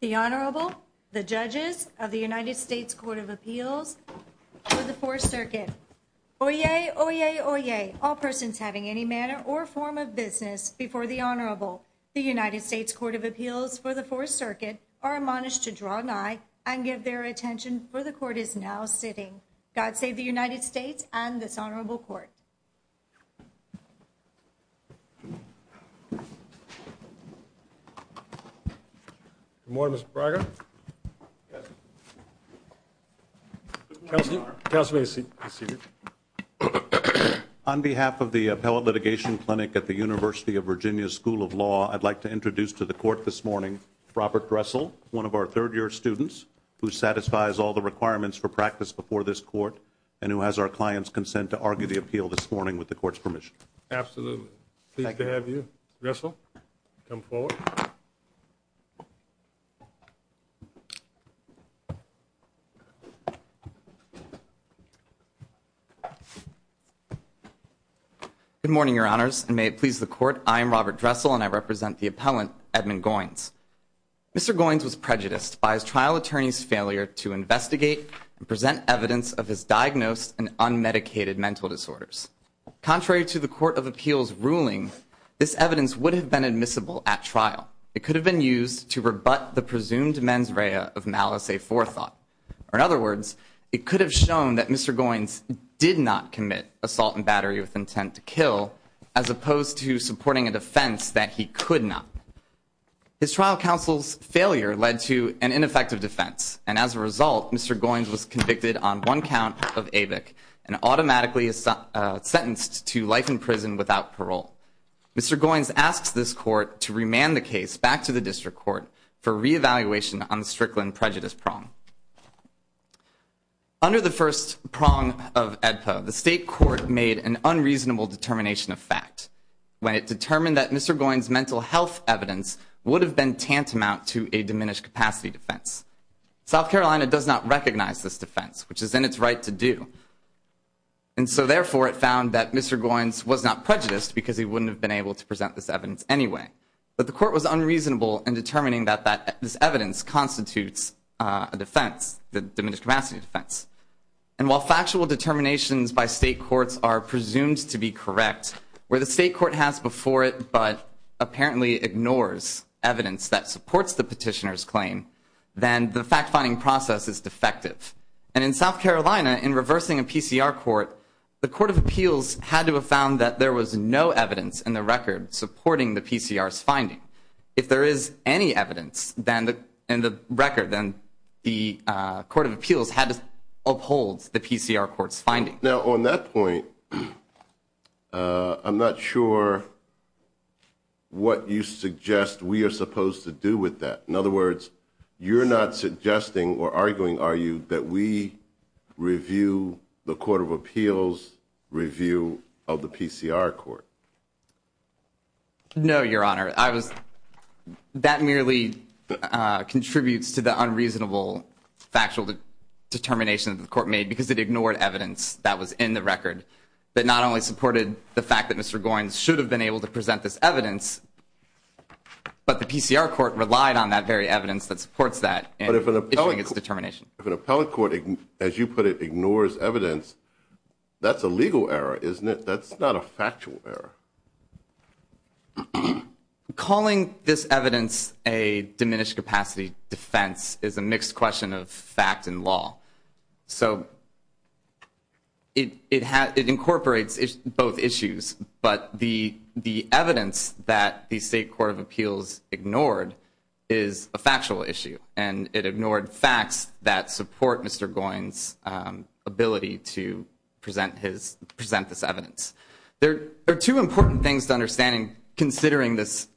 The Honourable, the Judges of the United States Court of Appeals for the Fourth Circuit. Oyez! Oyez! Oyez! All persons having any manner or form of business before the Honourable, the United States Court of Appeals for the Fourth Circuit, are admonished to draw nigh and give their attention, for the Court is now sitting. God save the United States and this Honourable Court. Good morning, Mr. Braga. Good morning, Your Honour. Counsel may be seated. On behalf of the Appellate Litigation Clinic at the University of Virginia School of Law, I'd like to introduce to the Court this morning, Robert Dressel, one of our third-year students, who satisfies all the requirements for practice before this Court, and who has our client's consent to argue the appeal this morning with the Court's permission. Absolutely. Pleased to have you. Mr. Dressel, come forward. Good morning, Your Honours. May it please the Court, I am Robert Dressel and I represent the Appellant, Edmund Goines. Mr. Goines was prejudiced by his trial attorney's failure to investigate and present evidence of his diagnosed and unmedicated mental disorders. Contrary to the Court of Appeals' ruling, this evidence would have been admissible at trial. It could have been used to rebut the presumed mens rea of malice aforethought. In other words, it could have shown that Mr. Goines did not commit assault and battery with intent to kill, as opposed to supporting a defense that he could not. His trial counsel's failure led to an ineffective defense, and as a result, Mr. Goines was convicted on one count of AVIC, and automatically sentenced to life in prison without parole. Mr. Goines asks this Court to remand the case back to the District Court for reevaluation on the Strickland prejudice prong. Under the first prong of AEDPA, the State Court made an unreasonable determination of fact when it determined that Mr. Goines' mental health evidence would have been tantamount to a diminished capacity defense. South Carolina does not recognize this defense, which is in its right to do. And so therefore, it found that Mr. Goines was not prejudiced because he wouldn't have been able to present this evidence anyway. But the Court was unreasonable in determining that this evidence constitutes a defense, a diminished capacity defense. And while factual determinations by state courts are presumed to be correct, where the state court has before it but apparently ignores evidence that supports the petitioner's claim, then the fact-finding process is defective. And in South Carolina, in reversing a PCR court, the Court of Appeals had to have found that there was no evidence in the record supporting the PCR's finding. If there is any evidence in the record, then the Court of Appeals had to uphold the PCR court's finding. Now on that point, I'm not sure what you suggest we are supposed to do with that. In other words, you're not suggesting or arguing, are you, that we review the Court of Appeals' review of the PCR court? No, Your Honor. That merely contributes to the unreasonable factual determination that the Court made because it ignored evidence that was in the record that not only supported the fact that Mr. Goines should have been able to present this evidence, but the PCR court relied on that very evidence that supports that in issuing its determination. But if an appellate court, as you put it, ignores evidence, that's a legal error, isn't it? That's not a factual error. Calling this evidence a diminished capacity defense is a mixed question of fact and law. So it incorporates both issues, but the evidence that the State Court of Appeals ignored is a factual issue, and it ignored facts that support Mr. Goines' ability to present this evidence. There are two important things to understand considering this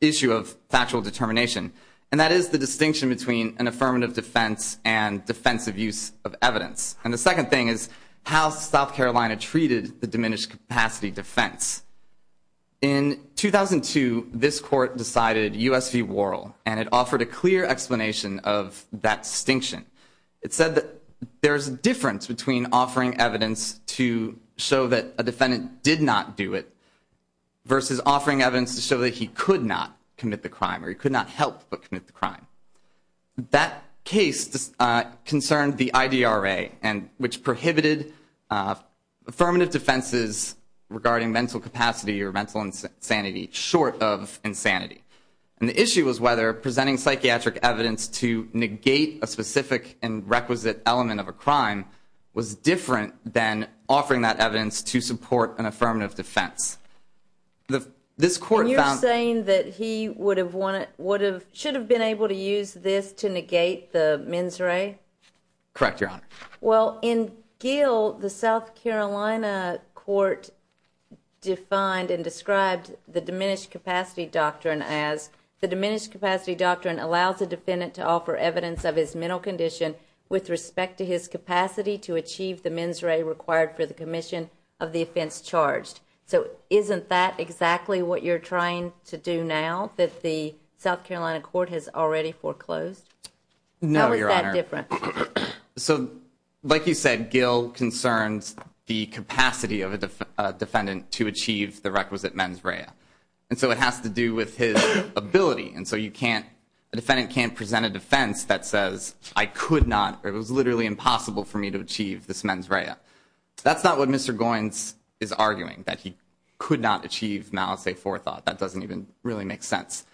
issue of factual determination, and that is the distinction between an affirmative defense and defensive use of evidence. And the second thing is how South Carolina treated the diminished capacity defense. In 2002, this court decided U.S. v. Worrell, and it offered a clear explanation of that distinction. It said that there's a difference between offering evidence to show that a defendant did not do it versus offering evidence to show that he could not commit the crime or he could not help but commit the crime. That case concerned the IDRA, which prohibited affirmative defenses regarding mental capacity or mental insanity short of insanity. And the issue was whether presenting psychiatric evidence to negate a specific and requisite element of a crime was different than offering that evidence to support an affirmative defense. And you're saying that he should have been able to use this to negate the mens re? Correct, Your Honor. Well, in Gill, the South Carolina court defined and described the diminished capacity doctrine as the diminished capacity doctrine allows a defendant to offer evidence of his mental condition with respect to his capacity to achieve the mens re required for the commission of the offense charged. So isn't that exactly what you're trying to do now that the South Carolina court has already foreclosed? No, Your Honor. How is that different? So like you said, Gill concerns the capacity of a defendant to achieve the requisite mens re. And so it has to do with his ability. And so you can't, a defendant can't present a defense that says I could not, it was literally impossible for me to achieve this mens re. That's not what Mr. Goins is arguing, that he could not achieve malice a forethought. That doesn't even really make sense.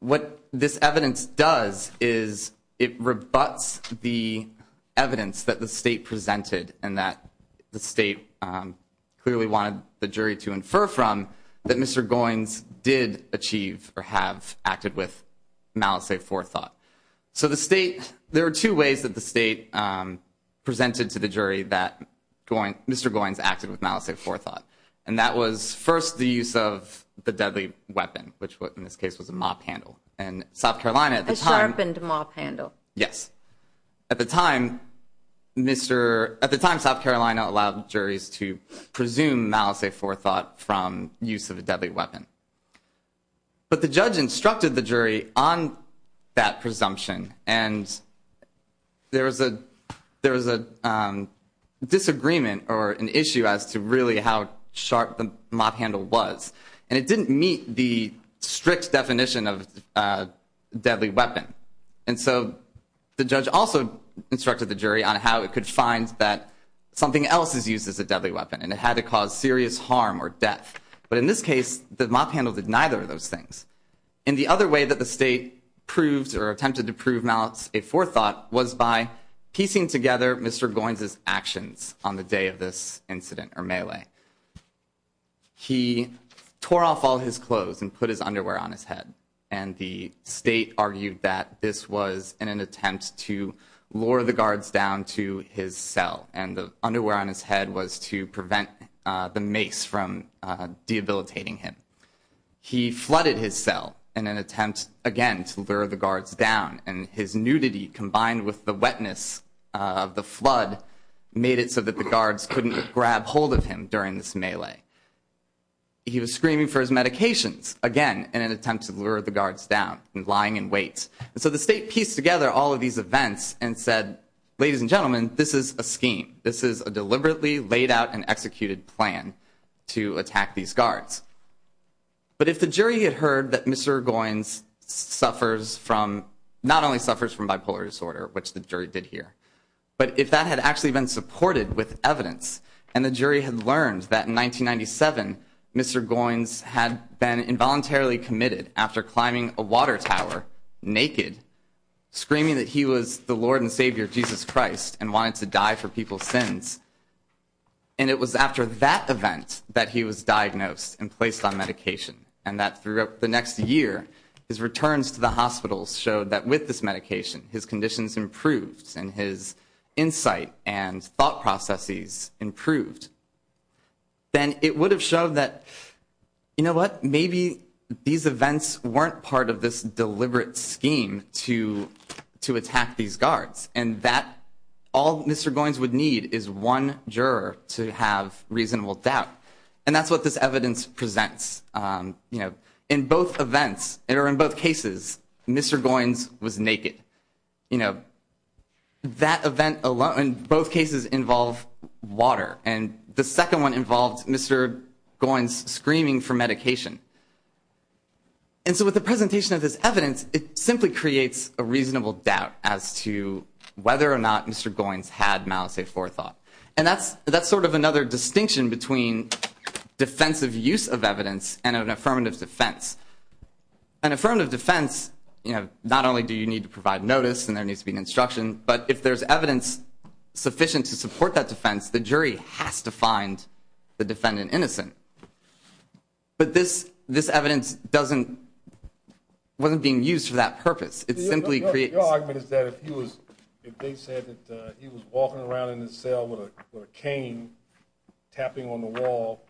What this evidence does is it rebuts the evidence that the state presented and that the state clearly wanted the jury to infer from that Mr. Goins did achieve or have acted with malice a forethought. So the state, there are two ways that the state presented to the jury that Mr. Goins acted with malice a forethought. And that was first the use of the deadly weapon, which in this case was a mop handle. And South Carolina at the time. A sharpened mop handle. Yes. At the time, Mr., at the time South Carolina allowed juries to presume malice a forethought from use of a deadly weapon. But the judge instructed the jury on that presumption. And there was a, there was a disagreement or an issue as to really how sharp the mop handle was. And it didn't meet the strict definition of deadly weapon. And so the judge also instructed the jury on how it could find that something else is used as a deadly weapon. And it had to cause serious harm or death. But in this case, the mop handle did neither of those things. And the other way that the state proved or attempted to prove malice a forethought was by piecing together Mr. Goins' actions on the day of this incident or melee. He tore off all his clothes and put his underwear on his head. And the state argued that this was in an attempt to lure the guards down to his cell. And the underwear on his head was to prevent the mace from debilitating him. He flooded his cell in an attempt, again, to lure the guards down. And his nudity combined with the wetness of the flood made it so that the guards couldn't grab hold of him during this melee. He was screaming for his medications, again, in an attempt to lure the guards down, lying in wait. And so the state pieced together all of these events and said, ladies and gentlemen, this is a scheme. This is a deliberately laid out and executed plan to attack these guards. But if the jury had heard that Mr. Goins suffers from, not only suffers from bipolar disorder, which the jury did hear, but if that had actually been supported with evidence and the jury had learned that in 1997, Mr. Goins had been involuntarily committed after climbing a water tower naked, screaming that he was the Lord and Savior Jesus Christ and wanted to die for people's sins, and it was after that event that he was diagnosed and placed on medication, and that throughout the next year, his returns to the hospitals showed that with this medication, his conditions improved and his insight and thought processes improved, then it would have shown that, you know what, maybe these events weren't part of this deliberate scheme to attack these guards, and that all Mr. Goins would need is one juror to have reasonable doubt. And that's what this evidence presents. You know, in both events, or in both cases, Mr. Goins was naked. You know, that event alone, both cases involve water, and the second one involved Mr. Goins screaming for medication. And so with the presentation of this evidence, it simply creates a reasonable doubt as to whether or not Mr. Goins had malice aforethought. And that's sort of another distinction between defensive use of evidence and an affirmative defense. An affirmative defense, you know, not only do you need to provide notice and there needs to be an instruction, but if there's evidence sufficient to support that defense, the jury has to find the defendant innocent. But this evidence wasn't being used for that purpose. Your argument is that if they said that he was walking around in his cell with a cane, tapping on the wall,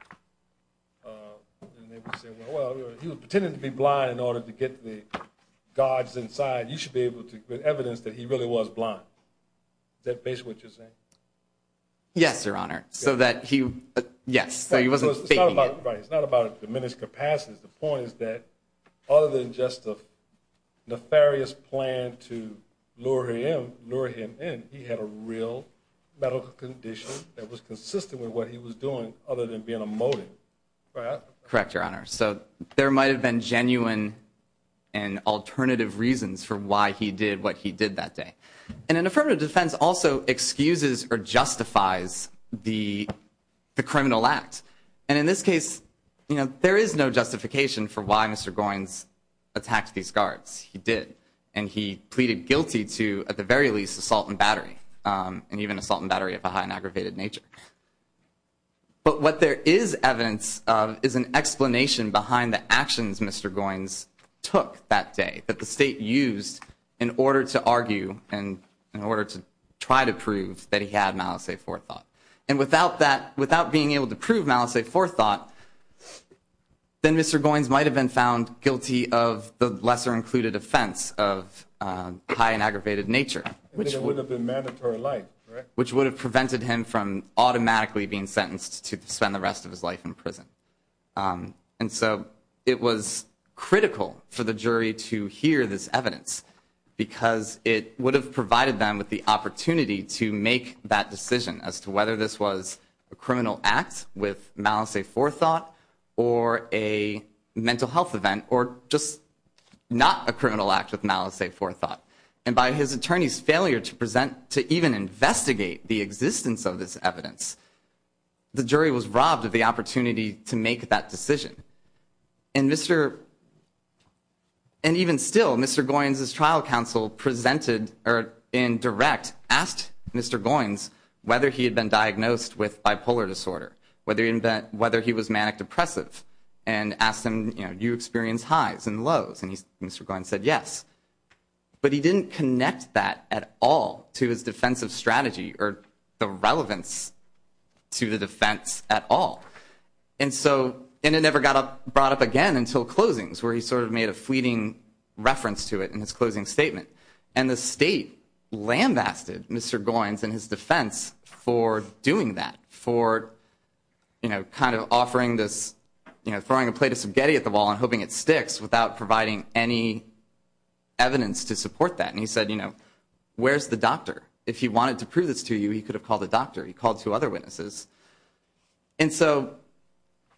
and they would say, well, he was pretending to be blind in order to get the guards inside, you should be able to give evidence that he really was blind. Is that basically what you're saying? Yes, Your Honor. So that he, yes, so he wasn't faking it. It's not about diminished capacities. The point is that other than just a nefarious plan to lure him in, he had a real medical condition that was consistent with what he was doing other than being a motive. Correct, Your Honor. So there might have been genuine and alternative reasons for why he did what he did that day. And an affirmative defense also excuses or justifies the criminal act. And in this case, you know, there is no justification for why Mr. Goins attacked these guards. He did. And he pleaded guilty to, at the very least, assault and battery. And even assault and battery of a high and aggravated nature. But what there is evidence of is an explanation behind the actions Mr. Goins took that day, that the state used in order to argue and in order to try to prove that he had malice a forethought. And without that, without being able to prove malice a forethought, then Mr. Goins might have been found guilty of the lesser included offense of high and aggravated nature. Which would have been mandatory life. Which would have prevented him from automatically being sentenced to spend the rest of his life in prison. And so it was critical for the jury to hear this evidence because it would have provided them with the opportunity to make that decision as to whether this was a criminal act with malice a forethought or a mental health event or just not a criminal act with malice a forethought. And by his attorney's failure to present, to even investigate the existence of this evidence, the jury was robbed of the opportunity to make that decision. And even still, Mr. Goins' trial counsel presented or in direct asked Mr. Goins whether he had been diagnosed with bipolar disorder. Whether he was manic depressive. And asked him, you know, do you experience highs and lows? And Mr. Goins said yes. But he didn't connect that at all to his defensive strategy or the relevance to the defense at all. And so, and it never got brought up again until closings where he sort of made a fleeting reference to it in his closing statement. And the state lambasted Mr. Goins and his defense for doing that. For, you know, kind of offering this, you know, throwing a plate of spaghetti at the wall and hoping it sticks without providing any evidence to support that. And he said, you know, where's the doctor? If he wanted to prove this to you, he could have called the doctor. He called two other witnesses. And so,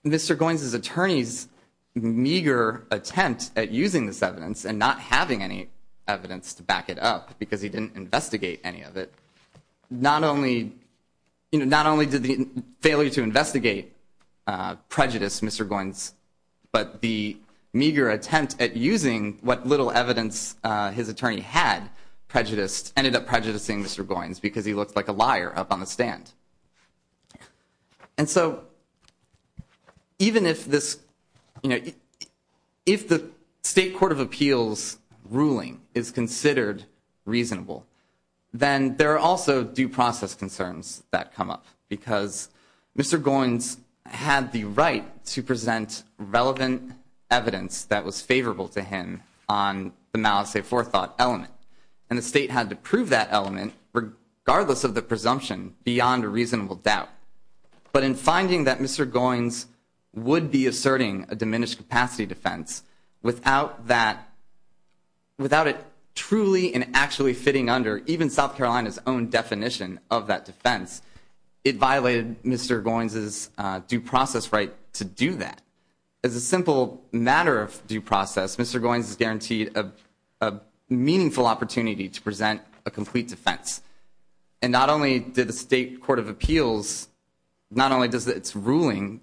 Mr. Goins' attorney's meager attempt at using this evidence and not having any evidence to back it up because he didn't investigate any of it. Not only, you know, not only did the failure to investigate prejudice Mr. Goins, but the meager attempt at using what little evidence his attorney had prejudiced, ended up prejudicing Mr. Goins because he looked like a liar up on the stand. And so, even if this, you know, if the state court of appeals ruling is considered reasonable, then there are also due process concerns that come up because Mr. Goins had the right to present relevant evidence that was favorable to him on the malice aforethought element. And the state had to prove that element regardless of the presumption beyond a reasonable doubt. But in finding that Mr. Goins would be asserting a diminished capacity defense without that, without it truly and actually fitting under even South Carolina's own definition of that defense, it violated Mr. Goins' due process right to do that. As a simple matter of due process, Mr. Goins is guaranteed a meaningful opportunity to present a complete defense. And not only did the state court of appeals, not only does its ruling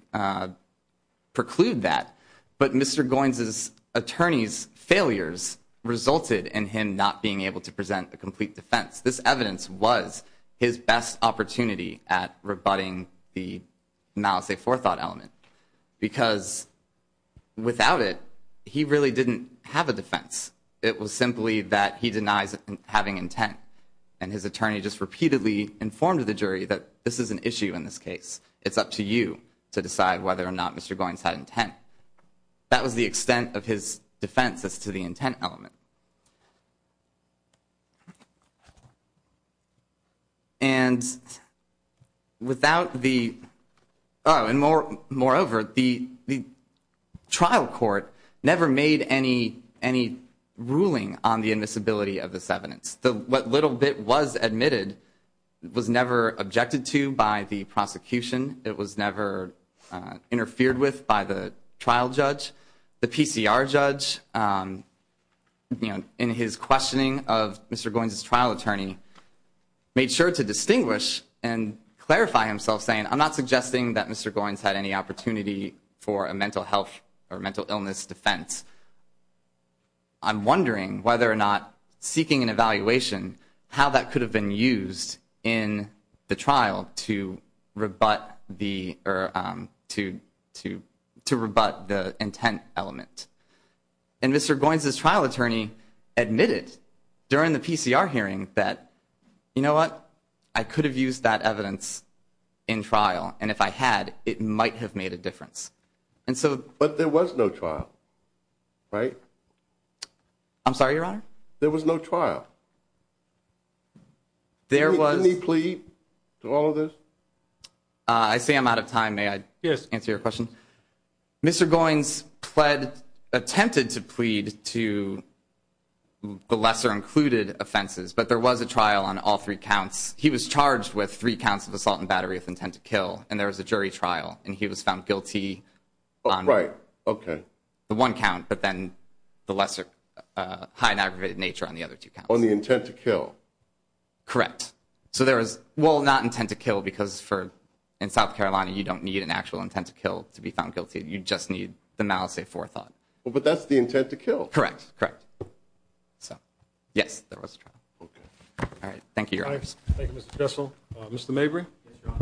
preclude that, but Mr. Goins' attorney's failures resulted in him not being able to present a complete defense. This evidence was his best opportunity at rebutting the malice aforethought element because without it, he really didn't have a defense. It was simply that he denies having intent. And his attorney just repeatedly informed the jury that this is an issue in this case. It's up to you to decide whether or not Mr. Goins had intent. That was the extent of his defense as to the intent element. And moreover, the trial court never made any ruling on the admissibility of this evidence. What little bit was admitted was never objected to by the prosecution. It was never interfered with by the trial judge. The PCR judge, in his questioning of Mr. Goins' trial attorney, made sure to distinguish and clarify himself saying, I'm not suggesting that Mr. Goins had any opportunity for a mental health or mental illness defense. I'm wondering whether or not seeking an evaluation, how that could have been used in the trial to rebut the intent element. And Mr. Goins' trial attorney admitted during the PCR hearing that, you know what, I could have used that evidence in trial, and if I had, it might have made a difference. But there was no trial, right? I'm sorry, Your Honor? There was no trial. Can we plea to all of this? I see I'm out of time. May I answer your question? Mr. Goins attempted to plead to the lesser included offenses, but there was a trial on all three counts. He was charged with three counts of assault and battery of intent to kill, and there was a jury trial, and he was found guilty on the one count, but then the lesser high and aggravated nature on the other two counts. On the intent to kill? Correct. So there was, well, not intent to kill, because in South Carolina, you don't need an actual intent to kill to be found guilty. You just need the malice of forethought. But that's the intent to kill. Correct, correct. So, yes, there was a trial. Okay. All right, thank you, Your Honor. Thank you, Mr. Bissell. Mr. Mabry? Yes, Your Honor.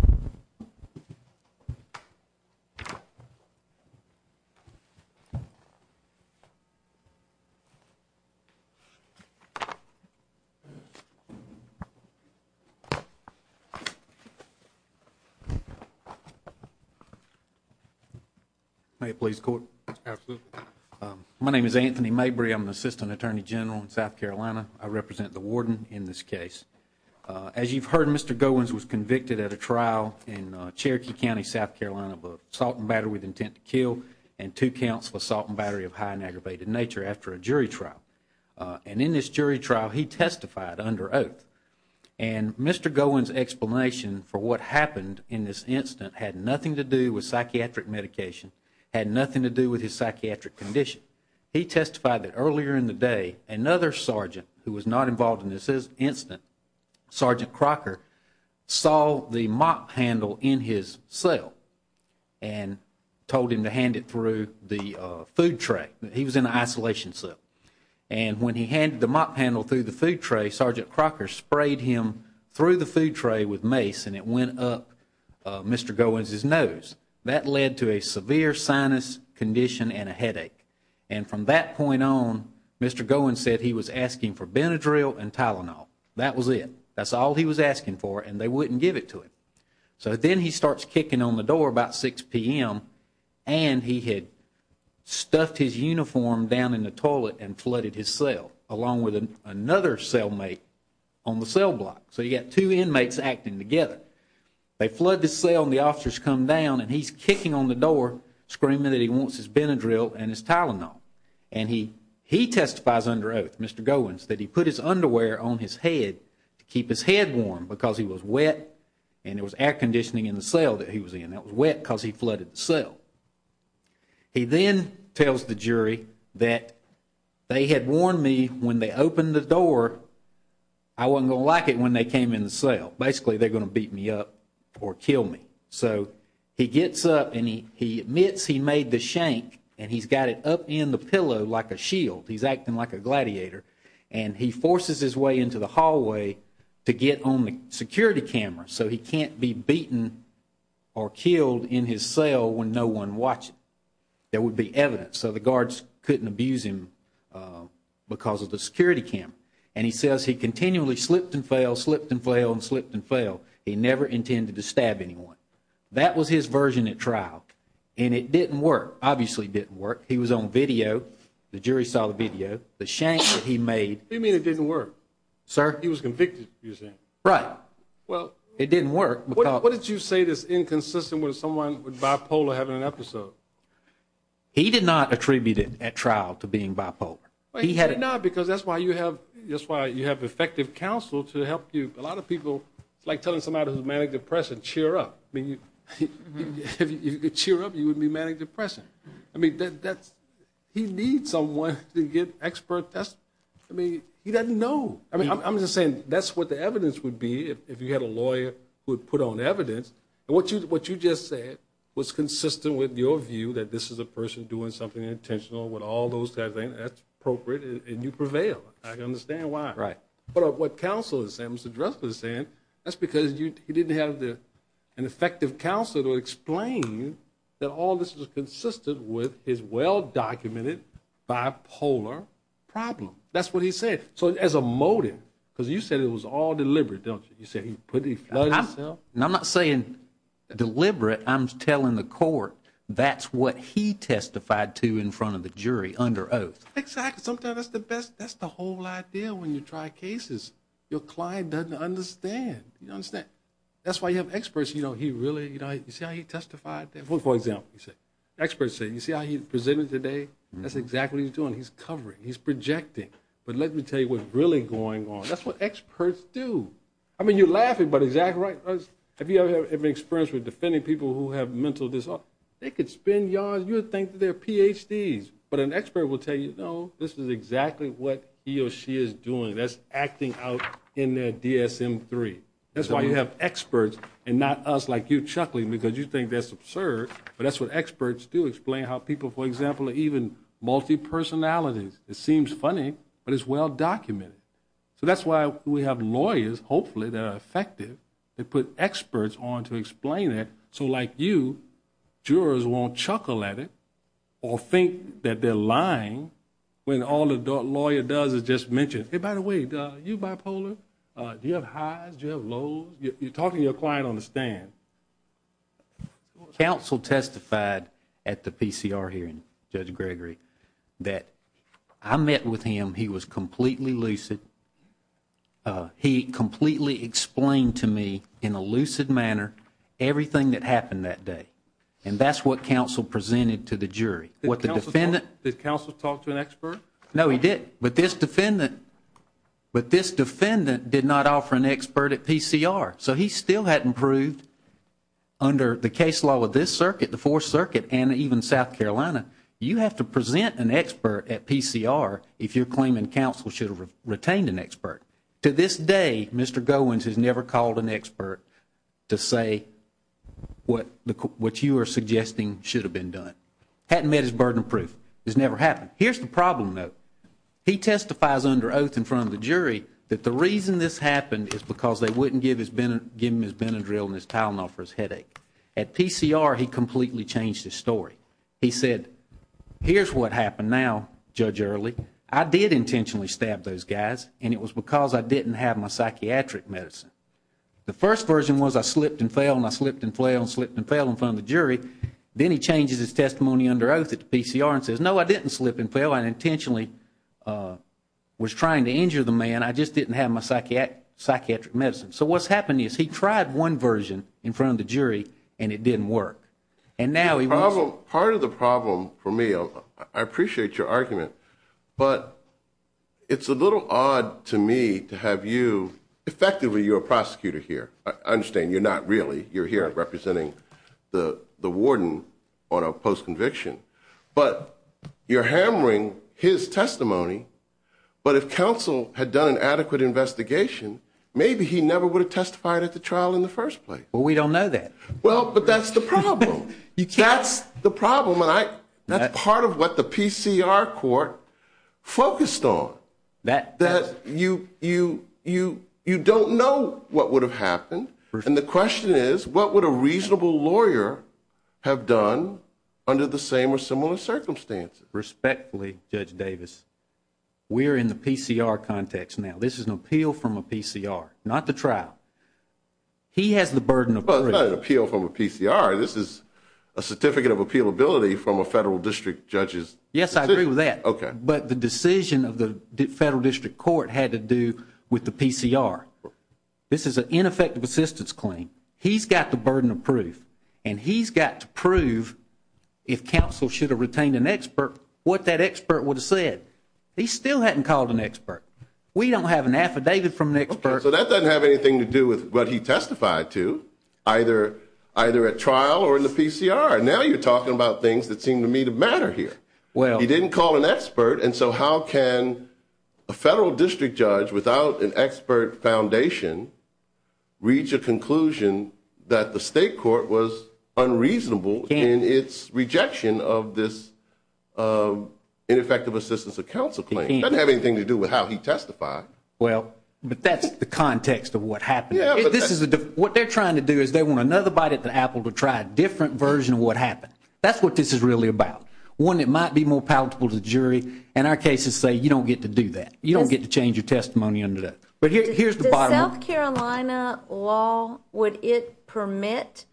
May it please the Court? Absolutely. My name is Anthony Mabry. I'm an assistant attorney general in South Carolina. I represent the warden in this case. As you've heard, Mr. Goins was convicted at a trial in Cherokee County, South Carolina of assault and battery with intent to kill and two counts of assault and battery of high and aggravated nature after a jury trial. And in this jury trial, he testified under oath. And Mr. Goins' explanation for what happened in this incident had nothing to do with psychiatric medication, had nothing to do with his psychiatric condition. He testified that earlier in the day, another sergeant who was not involved in this incident, Sergeant Crocker, saw the mop handle in his cell and told him to hand it through the food tray. He was in an isolation cell. And when he handed the mop handle through the food tray, Sergeant Crocker sprayed him through the food tray with mace and it went up Mr. Goins' nose. That led to a severe sinus condition and a headache. And from that point on, Mr. Goins said he was asking for Benadryl and Tylenol. That was it. That's all he was asking for and they wouldn't give it to him. So then he starts kicking on the door about 6 p.m. and he had stuffed his uniform down in the toilet and flooded his cell along with another cellmate on the cell block. So you've got two inmates acting together. They flood the cell and the officers come down and he's kicking on the door, screaming that he wants his Benadryl and his Tylenol. And he testifies under oath, Mr. Goins, that he put his underwear on his head to keep his head warm because he was wet and there was air conditioning in the cell that he was in. That was wet because he flooded the cell. He then tells the jury that they had warned me when they opened the door, basically they're going to beat me up or kill me. So he gets up and he admits he made the shank and he's got it up in the pillow like a shield. He's acting like a gladiator. And he forces his way into the hallway to get on the security camera so he can't be beaten or killed in his cell when no one watches. There would be evidence. So the guards couldn't abuse him because of the security camera. And he says he continually slipped and fell, slipped and fell, and slipped and fell. He never intended to stab anyone. That was his version at trial. And it didn't work. Obviously it didn't work. He was on video. The jury saw the video. The shank that he made. What do you mean it didn't work? Sir? He was convicted, you're saying. Right. Well, it didn't work. What did you say that's inconsistent with someone with bipolar having an episode? He did not attribute it at trial to being bipolar. No, because that's why you have effective counsel to help you. A lot of people, like telling somebody who's manic-depressant, cheer up. I mean, if you could cheer up, you wouldn't be manic-depressant. I mean, he needs someone to get expert testimony. I mean, he doesn't know. I mean, I'm just saying that's what the evidence would be if you had a lawyer who would put on evidence. And what you just said was consistent with your view that this is a person doing something intentional with all those kinds of things. That's appropriate, and you prevail. I understand why. Right. But what counsel is saying, Mr. Dressler is saying, that's because he didn't have an effective counsel to explain that all this was consistent with his well-documented bipolar problem. That's what he said. So as a motive, because you said it was all deliberate, don't you? You said he put it himself. I'm not saying deliberate. I'm telling the court that's what he testified to in front of the jury under oath. Exactly. Sometimes that's the best. That's the whole idea when you try cases. Your client doesn't understand. You understand? That's why you have experts. You know, he really, you know, you see how he testified? For example, experts say, you see how he presented today? That's exactly what he's doing. He's covering. He's projecting. But let me tell you what's really going on. That's what experts do. I mean, you're laughing, but exactly right. Have you ever had experience with defending people who have mental disorder? They could spin yards. You would think they're Ph.D.'s. But an expert will tell you, no, this is exactly what he or she is doing. That's acting out in their DSM-3. That's why you have experts and not us like you chuckling because you think that's absurd. But that's what experts do, explain how people, for example, are even multi-personalities. It seems funny, but it's well-documented. So that's why we have lawyers, hopefully, that are effective. They put experts on to explain it so, like you, jurors won't chuckle at it or think that they're lying when all the lawyer does is just mention, hey, by the way, are you bipolar? Do you have highs? Do you have lows? You're talking and you're quiet on the stand. Counsel testified at the PCR hearing, Judge Gregory, that I met with him. He was completely lucid. He completely explained to me in a lucid manner everything that happened that day. And that's what counsel presented to the jury. Did counsel talk to an expert? No, he didn't. But this defendant did not offer an expert at PCR. So he still hadn't proved under the case law with this circuit, the Fourth Circuit, and even South Carolina, you have to present an expert at PCR if you're claiming counsel should have retained an expert. To this day, Mr. Goins has never called an expert to say what you are suggesting should have been done. Hadn't met his burden of proof. It's never happened. Here's the problem, though. He testifies under oath in front of the jury that the reason this happened is because they wouldn't give him his Benadryl and his Tylenol for his headache. At PCR, he completely changed his story. He said, here's what happened now, Judge Early. I did intentionally stab those guys, and it was because I didn't have my psychiatric medicine. The first version was I slipped and fell, and I slipped and fell, and slipped and fell in front of the jury. Then he changes his testimony under oath at the PCR and says, no, I didn't slip and fell. I intentionally was trying to injure the man. I just didn't have my psychiatric medicine. So what's happening is he tried one version in front of the jury, and it didn't work. Part of the problem for me, I appreciate your argument, but it's a little odd to me to have you, effectively you're a prosecutor here. I understand you're not really. You're here representing the warden on a post-conviction. But you're hammering his testimony, but if counsel had done an adequate investigation, maybe he never would have testified at the trial in the first place. Well, we don't know that. Well, but that's the problem. That's the problem, and that's part of what the PCR court focused on, that you don't know what would have happened, and the question is, what would a reasonable lawyer have done under the same or similar circumstances? Respectfully, Judge Davis, we're in the PCR context now. This is an appeal from a PCR, not the trial. He has the burden of proof. Well, it's not an appeal from a PCR. This is a certificate of appealability from a federal district judge's decision. Yes, I agree with that. Okay. But the decision of the federal district court had to do with the PCR. This is an ineffective assistance claim. He's got the burden of proof, and he's got to prove if counsel should have retained an expert what that expert would have said. He still hadn't called an expert. We don't have an affidavit from an expert. Okay, so that doesn't have anything to do with what he testified to, either at trial or in the PCR. Now you're talking about things that seem to me to matter here. He didn't call an expert, and so how can a federal district judge without an expert foundation reach a conclusion that the state court was unreasonable in its rejection of this ineffective assistance of counsel claim? It doesn't have anything to do with how he testified. Well, but that's the context of what happened. What they're trying to do is they want another bite at the apple to try a different version of what happened. That's what this is really about. One, it might be more palatable to the jury, and our cases say you don't get to do that. You don't get to change your testimony under that. Does South Carolina law, would it permit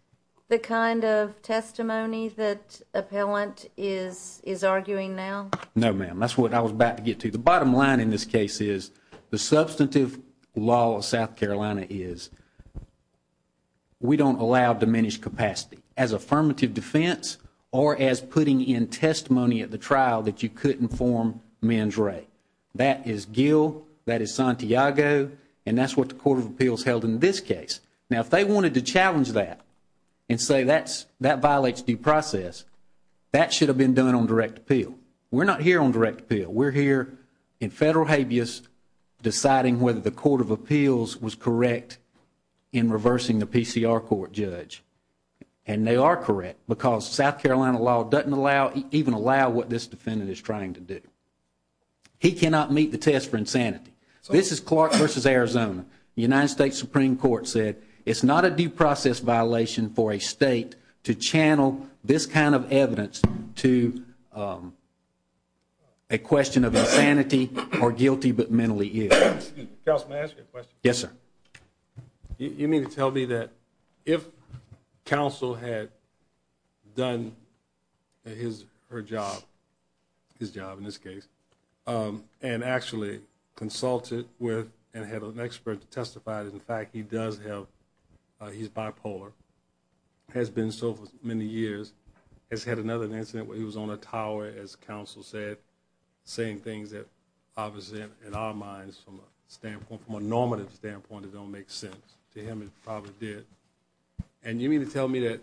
the kind of testimony that appellant is arguing now? No, ma'am. That's what I was about to get to. The bottom line in this case is the substantive law of South Carolina is we don't allow diminished capacity as affirmative defense or as putting in testimony at the trial that you couldn't inform men's right. That is Gill, that is Santiago, and that's what the Court of Appeals held in this case. Now if they wanted to challenge that and say that violates due process, that should have been done on direct appeal. We're not here on direct appeal. We're here in federal habeas deciding whether the Court of Appeals was correct in reversing the PCR court judge, and they are correct because South Carolina law doesn't even allow what this defendant is trying to do. He cannot meet the test for insanity. This is Clark versus Arizona. The United States Supreme Court said it's not a due process violation for a state to channel this kind of evidence to a question of insanity or guilty but mentally ill. Counsel, may I ask you a question? Yes, sir. You mean to tell me that if counsel had done his or her job, his job in this case, and actually consulted with and had an expert to testify that, in fact, he does have, he's bipolar, has been so for many years, has had another incident where he was on a tower, as counsel said, saying things that, obviously, in our minds, from a normative standpoint, don't make sense. To him, it probably did. And you mean to tell me that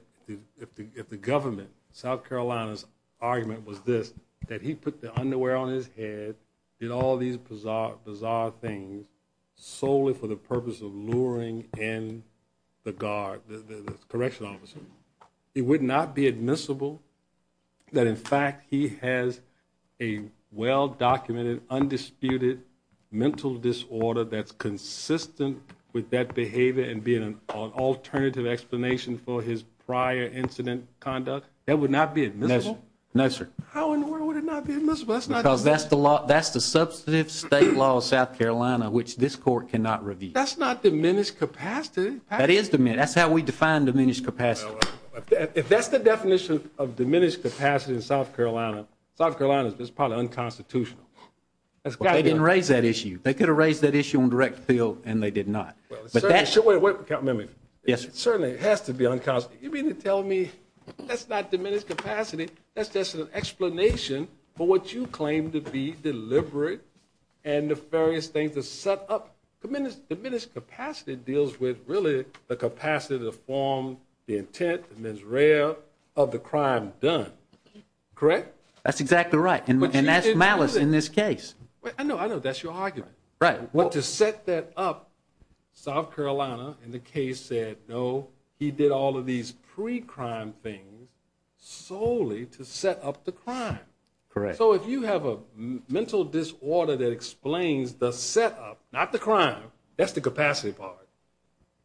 if the government, South Carolina's argument was this, that he put the underwear on his head, did all these bizarre things solely for the purpose of luring in the guard, the correctional officer, it would not be admissible that, in fact, he has a well-documented, undisputed mental disorder that's consistent with that behavior and being an alternative explanation for his prior incident conduct? That would not be admissible? No, sir. How in the world would it not be admissible? Because that's the substantive state law of South Carolina, which this Court cannot review. That's not diminished capacity. That is diminished. That's how we define diminished capacity. If that's the definition of diminished capacity in South Carolina, South Carolina is probably unconstitutional. They didn't raise that issue. They could have raised that issue on direct appeal, and they did not. Wait a minute. Yes, sir. It certainly has to be unconstitutional. You mean to tell me that's not diminished capacity, that's just an explanation for what you claim to be deliberate and nefarious things to set up? Diminished capacity deals with really the capacity to form the intent, the mens rea, of the crime done, correct? That's exactly right, and that's malice in this case. I know, I know. That's your argument. Right. But to set that up, South Carolina in the case said no, he did all of these pre-crime things solely to set up the crime. Correct. So if you have a mental disorder that explains the setup, not the crime, that's the capacity part,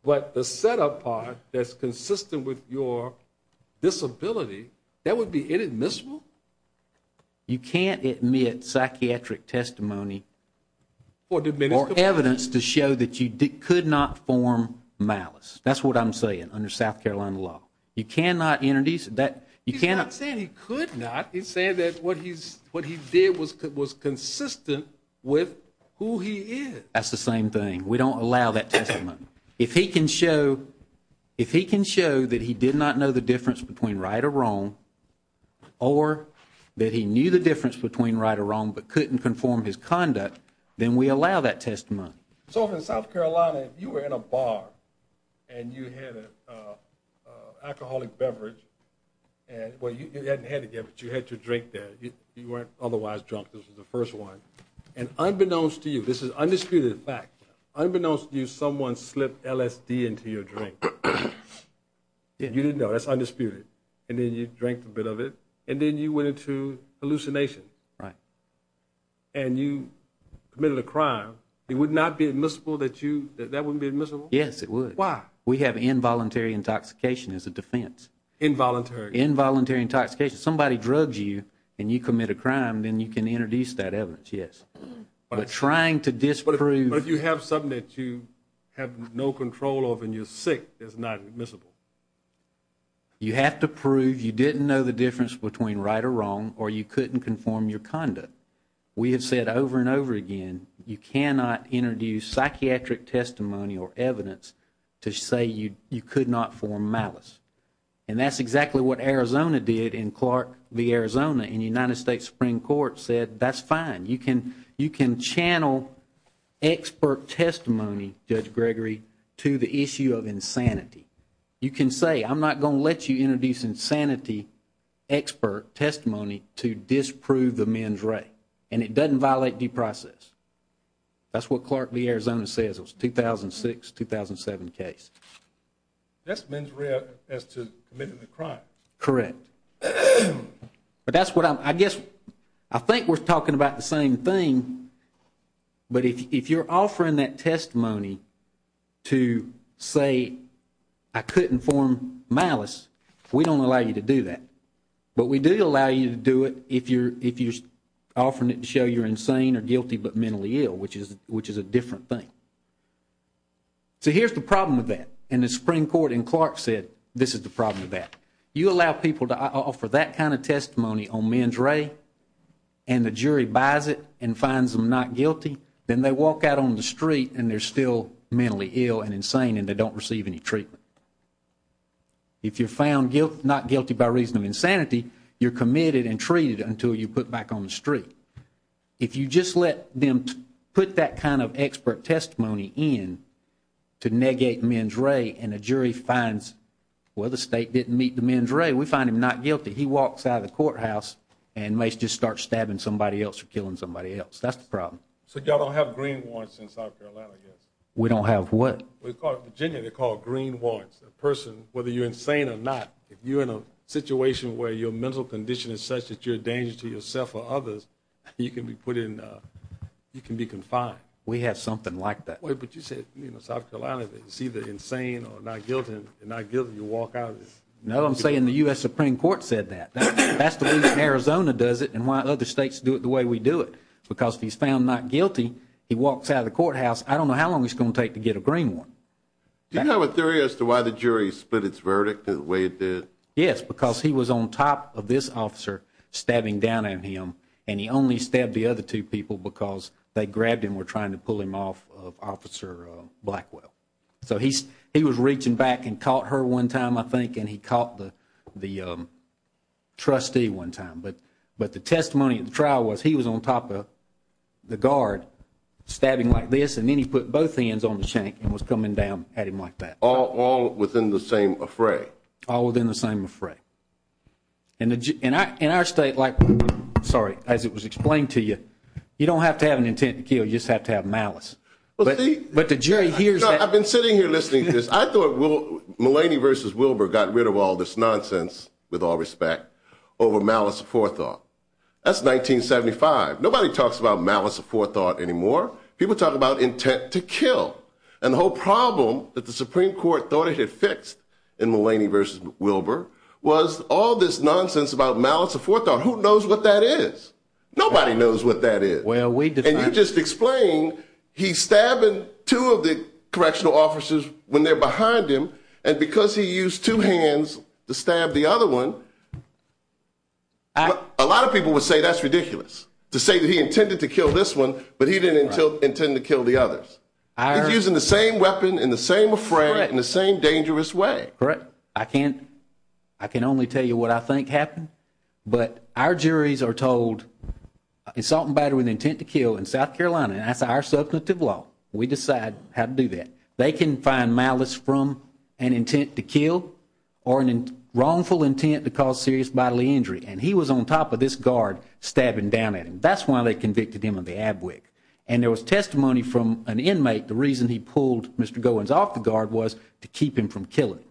but the setup part that's consistent with your disability, that would be inadmissible? You can't admit psychiatric testimony. Or diminished capacity. Or evidence to show that you could not form malice. That's what I'm saying under South Carolina law. You cannot introduce that. He's not saying he could not. He's saying that what he did was consistent with who he is. That's the same thing. We don't allow that testimony. If he can show that he did not know the difference between right or wrong, or that he knew the difference between right or wrong but couldn't conform his conduct, then we allow that testimony. So if in South Carolina you were in a bar and you had an alcoholic beverage, well, you hadn't had it yet, but you had your drink there, you weren't otherwise drunk, this was the first one, and unbeknownst to you, this is undisputed fact, unbeknownst to you, someone slipped LSD into your drink. You didn't know. That's undisputed. And then you drank a bit of it. And then you went into hallucination. Right. And you committed a crime. It would not be admissible that that wouldn't be admissible? Yes, it would. Why? We have involuntary intoxication as a defense. Involuntary? Involuntary intoxication. Somebody drugs you and you commit a crime, then you can introduce that evidence, yes. But trying to disprove. But you have something that you have no control over and you're sick, that's not admissible. You have to prove you didn't know the difference between right or wrong or you couldn't conform your conduct. We have said over and over again, you cannot introduce psychiatric testimony or evidence to say you could not form malice. And that's exactly what Arizona did in Clark v. Arizona. And the United States Supreme Court said that's fine. You can channel expert testimony, Judge Gregory, to the issue of insanity. You can say I'm not going to let you introduce insanity expert testimony to disprove the men's right. And it doesn't violate due process. That's what Clark v. Arizona says. It was a 2006-2007 case. That's men's right as to committing the crime. Correct. But that's what I'm, I guess, I think we're talking about the same thing. But if you're offering that testimony to say I couldn't form malice, we don't allow you to do that. But we do allow you to do it if you're offering it to show you're insane or guilty but mentally ill, which is a different thing. So here's the problem with that. And the Supreme Court in Clark said this is the problem with that. You allow people to offer that kind of testimony on men's right and the jury buys it and finds them not guilty, then they walk out on the street and they're still mentally ill and insane and they don't receive any treatment. If you're found not guilty by reason of insanity, you're committed and treated until you're put back on the street. If you just let them put that kind of expert testimony in to negate men's right and a jury finds, well, the state didn't meet the men's right, we find him not guilty, he walks out of the courthouse and may just start stabbing somebody else or killing somebody else. That's the problem. So y'all don't have green warrants in South Carolina yet? We don't have what? In Virginia they're called green warrants. A person, whether you're insane or not, if you're in a situation where your mental condition is such that you're a danger to yourself or others, you can be put in, you can be confined. We have something like that. Wait, but you said, you know, South Carolina is either insane or not guilty. If you're not guilty, you walk out. No, I'm saying the U.S. Supreme Court said that. That's the reason Arizona does it and why other states do it the way we do it. Because if he's found not guilty, he walks out of the courthouse, I don't know how long it's going to take to get a green warrant. Do you have a theory as to why the jury split its verdict the way it did? Yes, because he was on top of this officer stabbing down at him, and he only stabbed the other two people because they grabbed him or were trying to pull him off of Officer Blackwell. So he was reaching back and caught her one time, I think, and he caught the trustee one time. But the testimony at the trial was he was on top of the guard stabbing like this, and then he put both hands on the shank and was coming down at him like that. All within the same fray. All within the same fray. In our state, like, sorry, as it was explained to you, you don't have to have an intent to kill, you just have to have malice. But the jury hears that. I've been sitting here listening to this. I thought Mulaney v. Wilbur got rid of all this nonsense, with all respect, over malice forethought. That's 1975. Nobody talks about malice forethought anymore. People talk about intent to kill. And the whole problem that the Supreme Court thought it had fixed in Mulaney v. Wilbur was all this nonsense about malice forethought. Who knows what that is? Nobody knows what that is. And you just explained he's stabbing two of the correctional officers when they're behind him, and because he used two hands to stab the other one, a lot of people would say that's ridiculous, to say that he intended to kill this one but he didn't intend to kill the others. He's using the same weapon, in the same refrain, in the same dangerous way. Correct. I can only tell you what I think happened. But our juries are told assault and battle with intent to kill in South Carolina, and that's our substantive law. We decide how to do that. They can find malice from an intent to kill or a wrongful intent to cause serious bodily injury. And he was on top of this guard stabbing down at him. That's why they convicted him of the ab wick. And there was testimony from an inmate. The reason he pulled Mr. Goins off the guard was to keep him from killing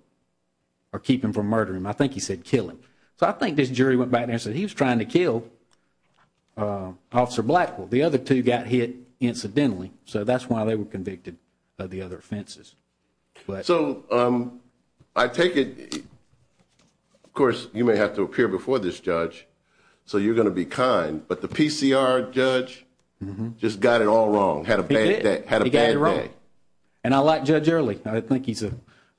or keep him from murdering him. I think he said kill him. So I think this jury went back there and said he was trying to kill Officer Blackwell. The other two got hit incidentally, so that's why they were convicted of the other offenses. So I take it, of course, you may have to appear before this judge, so you're going to be kind, but the PCR judge just got it all wrong, had a bad day. And I like Judge Early. I think he's a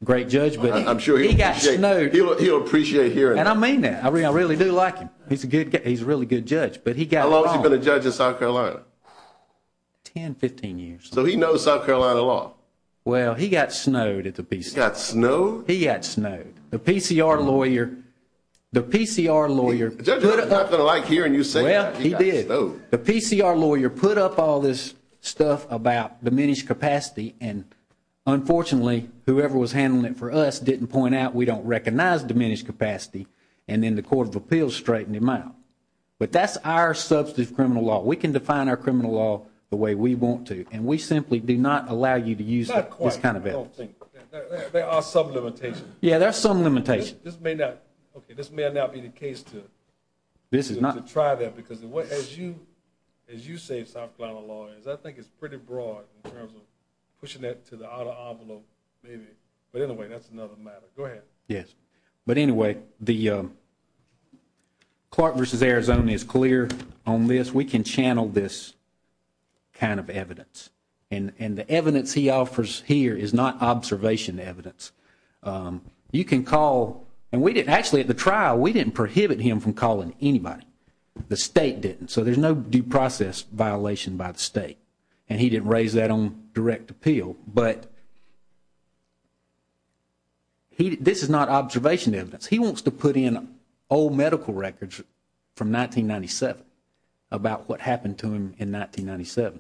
great judge, but he got snowed. He'll appreciate hearing it. And I mean that. I really do like him. He's a really good judge, but he got it all wrong. How long has he been a judge in South Carolina? Ten, 15 years. So he knows South Carolina law. Well, he got snowed at the PCR. He got snowed? He got snowed. Judge, I'm not going to like hearing you say he got snowed. Well, he did. The PCR lawyer put up all this stuff about diminished capacity, and unfortunately, whoever was handling it for us didn't point out we don't recognize diminished capacity, and then the Court of Appeals straightened him out. But that's our substantive criminal law. We can define our criminal law the way we want to, and we simply do not allow you to use this kind of evidence. There are some limitations. Yeah, there are some limitations. This may not be the case to try that, because as you say, South Carolina lawyers, I think it's pretty broad in terms of pushing that to the outer envelope maybe. But anyway, that's another matter. Go ahead. Yes. But anyway, Clark v. Arizona is clear on this. We can channel this kind of evidence. And the evidence he offers here is not observation evidence. You can call, and we didn't actually at the trial, we didn't prohibit him from calling anybody. The state didn't. So there's no due process violation by the state. And he didn't raise that on direct appeal. But this is not observation evidence. He wants to put in old medical records from 1997 about what happened to him in 1997.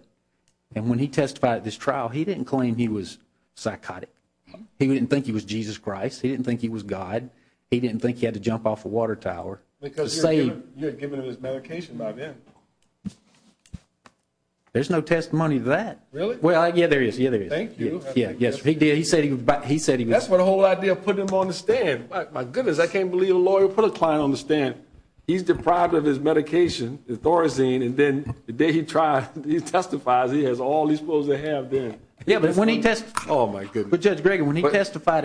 And when he testified at this trial, he didn't claim he was psychotic. He didn't think he was Jesus Christ. He didn't think he was God. He didn't think he had to jump off a water tower to save him. Because you had given him his medication by then. There's no testimony to that. Well, yeah, there is, yeah, there is. Thank you. Yeah, yes, he did. He said he was. That's what the whole idea of putting him on the stand. My goodness, I can't believe a lawyer put a client on the stand. He's deprived of his medication, his Thorazine, and then the day he testified, he has all he's supposed to have then. Yeah, but when he testified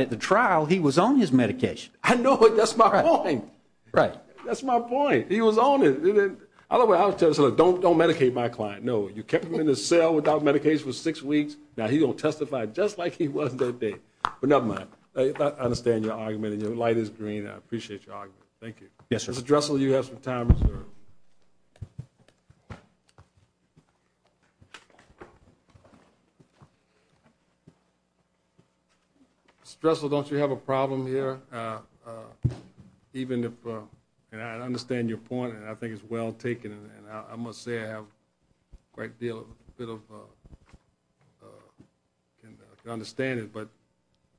at the trial, he was on his medication. I know, but that's my point. Right. That's my point. He was on it. Don't medicate my client. No, you kept him in the cell without medication for six weeks. Now he's going to testify just like he was that day. But never mind. I understand your argument, and your light is green. I appreciate your argument. Thank you. Yes, sir. Mr. Dressel, you have some time reserved. Mr. Dressel, don't you have a problem here? Even if, and I understand your point, and I think it's well taken, and I must say I have quite a bit of, can understand it, but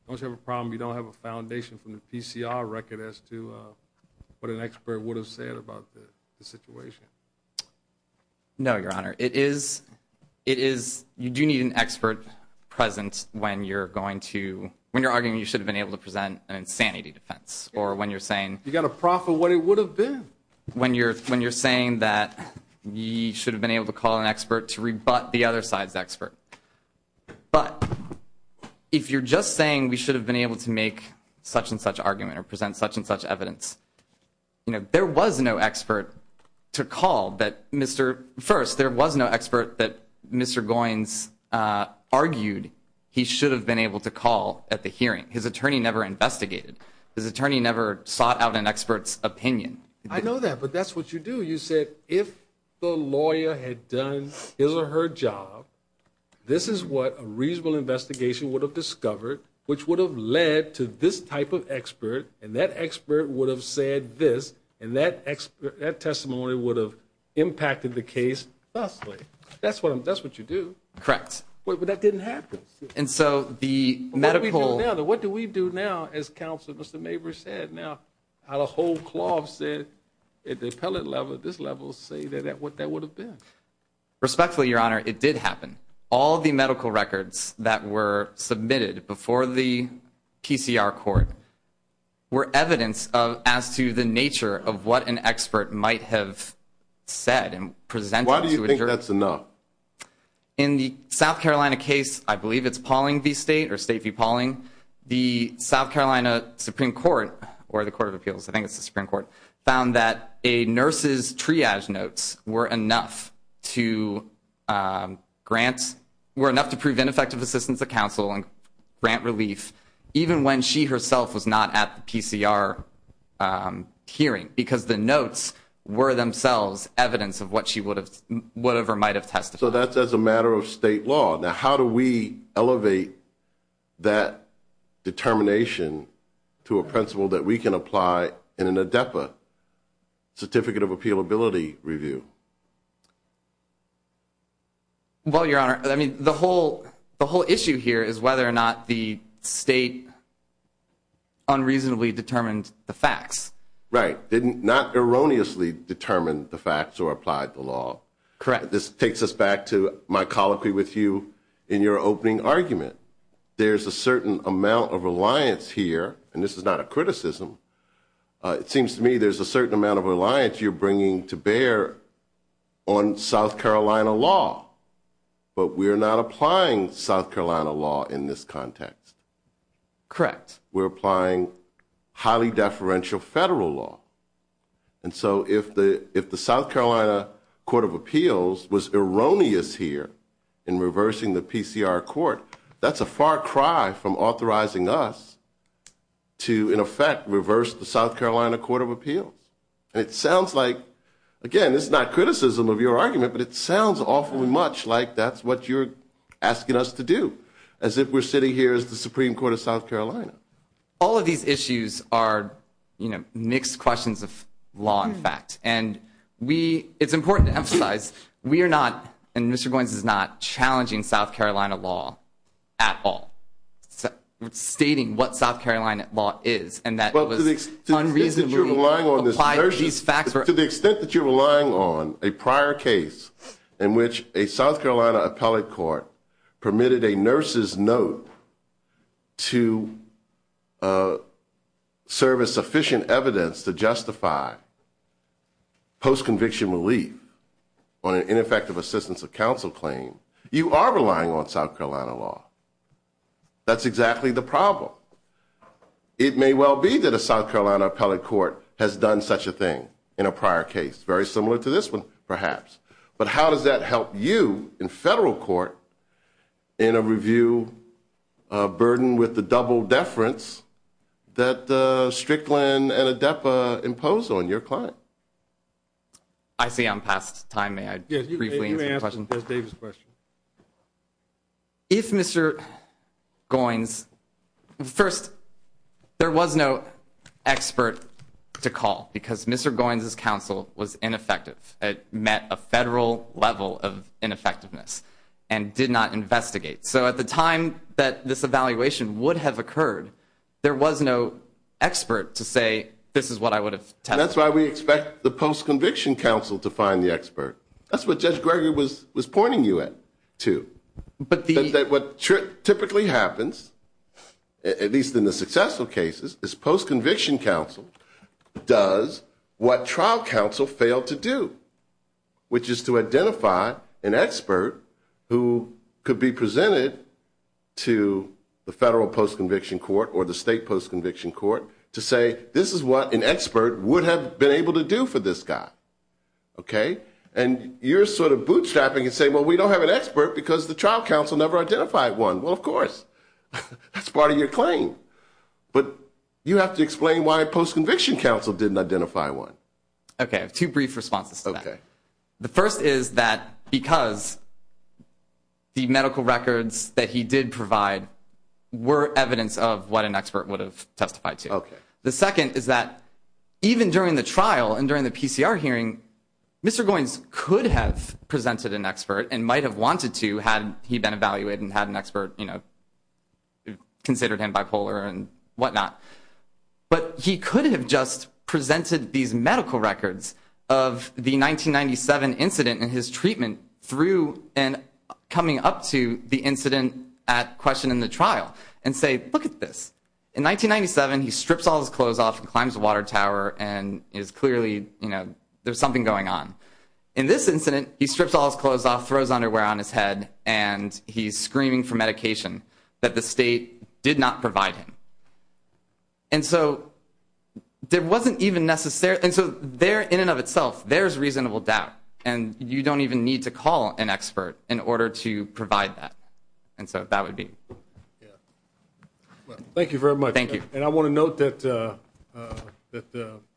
don't you have a problem you don't have a foundation from the PCR record as to what an expert would have said about the situation? No, Your Honor. You do need an expert presence when you're arguing you should have been able to present an insanity defense or when you're saying you should have been able to call an expert to rebut the other side's expert. But if you're just saying we should have been able to make such-and-such argument or present such-and-such evidence, there was no expert to call. First, there was no expert that Mr. Goins argued he should have been able to call at the hearing. His attorney never investigated. His attorney never sought out an expert's opinion. I know that, but that's what you do. You said if the lawyer had done his or her job, this is what a reasonable investigation would have discovered, which would have led to this type of expert, and that expert would have said this, and that testimony would have impacted the case vastly. That's what you do. Correct. But that didn't happen. And so the medical— What do we do now, as counsel, as Mr. Mabry said? Now, out of whole cloths, at the appellate level, at this level, say what that would have been. Respectfully, Your Honor, it did happen. All the medical records that were submitted before the PCR court were evidence as to the nature of what an expert might have said and presented to a juror. Why do you think that's enough? In the South Carolina case, I believe it's Pauling v. State or State v. Pauling, the South Carolina Supreme Court, or the Court of Appeals, I think it's the Supreme Court, found that a nurse's triage notes were enough to grant—were enough to prove ineffective assistance to counsel and grant relief even when she herself was not at the PCR hearing, because the notes were themselves evidence of what she would have—whatever might have testified. So that's as a matter of state law. Now, how do we elevate that determination to a principle that we can apply in an ADEPA, Certificate of Appealability, review? Well, Your Honor, I mean, the whole issue here is whether or not the state unreasonably determined the facts. Right. Did not erroneously determine the facts or apply the law. Correct. All right, this takes us back to my colloquy with you in your opening argument. There's a certain amount of reliance here, and this is not a criticism. It seems to me there's a certain amount of reliance you're bringing to bear on South Carolina law, but we're not applying South Carolina law in this context. Correct. We're applying highly deferential federal law. And so if the South Carolina Court of Appeals was erroneous here in reversing the PCR court, that's a far cry from authorizing us to, in effect, reverse the South Carolina Court of Appeals. And it sounds like—again, this is not criticism of your argument, but it sounds awfully much like that's what you're asking us to do, as if we're sitting here as the Supreme Court of South Carolina. All of these issues are, you know, mixed questions of law and fact. And we—it's important to emphasize we are not, and Mr. Goins is not, challenging South Carolina law at all, stating what South Carolina law is, and that was unreasonably applied to these facts. To the extent that you're relying on a prior case in which a South Carolina appellate court permitted a nurse's note to serve as sufficient evidence to justify post-conviction relief on an ineffective assistance of counsel claim, you are relying on South Carolina law. That's exactly the problem. It may well be that a South Carolina appellate court has done such a thing in a prior case, very similar to this one, perhaps. But how does that help you in federal court in a review burdened with the double deference that Strickland and ADEPA imposed on your client? I see I'm past time. May I briefly answer the question? Yes, you may answer Judge Davis' question. If Mr. Goins—first, there was no expert to call because Mr. Goins' counsel was ineffective. It met a federal level of ineffectiveness and did not investigate. So at the time that this evaluation would have occurred, there was no expert to say, this is what I would have tested. That's why we expect the post-conviction counsel to find the expert. That's what Judge Greger was pointing you at, too, that what typically happens, at least in the successful cases, is post-conviction counsel does what trial counsel failed to do, which is to identify an expert who could be presented to the federal post-conviction court or the state post-conviction court to say, this is what an expert would have been able to do for this guy. And you're sort of bootstrapping and saying, well, we don't have an expert because the trial counsel never identified one. Well, of course. That's part of your claim. But you have to explain why a post-conviction counsel didn't identify one. Okay. I have two brief responses to that. Okay. The first is that because the medical records that he did provide were evidence of what an expert would have testified to. Okay. The second is that even during the trial and during the PCR hearing, Mr. Goins could have presented an expert and might have wanted to had he been evaluated and had an expert, you know, considered him bipolar and whatnot. But he could have just presented these medical records of the 1997 incident and his treatment through and coming up to the incident at question in the trial and say, look at this. In 1997, he strips all his clothes off and climbs a water tower and is clearly, you know, there's something going on. In this incident, he strips all his clothes off, throws underwear on his head, and he's screaming for medication that the state did not provide him. And so there wasn't even necessary. And so there, in and of itself, there's reasonable doubt. And you don't even need to call an expert in order to provide that. And so that would be. Thank you very much. Thank you. And I want to note that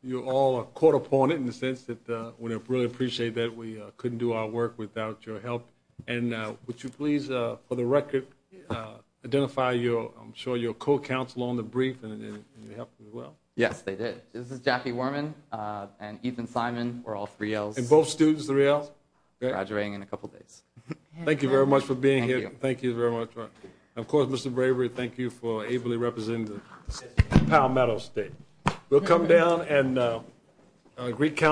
you all are caught upon it in the sense that we really appreciate that we couldn't do our work without your help. And would you please, for the record, identify your, I'm sure, your co-counsel on the brief and your help as well? Yes, they did. This is Jackie Worman and Ethan Simon. We're all 3Ls. And both students 3Ls? Graduating in a couple days. Thank you very much for being here. Thank you. Thank you very much. Of course, Mr. Bravery, thank you for ably representing the state of Palmetto State. We'll come down and greet counsel.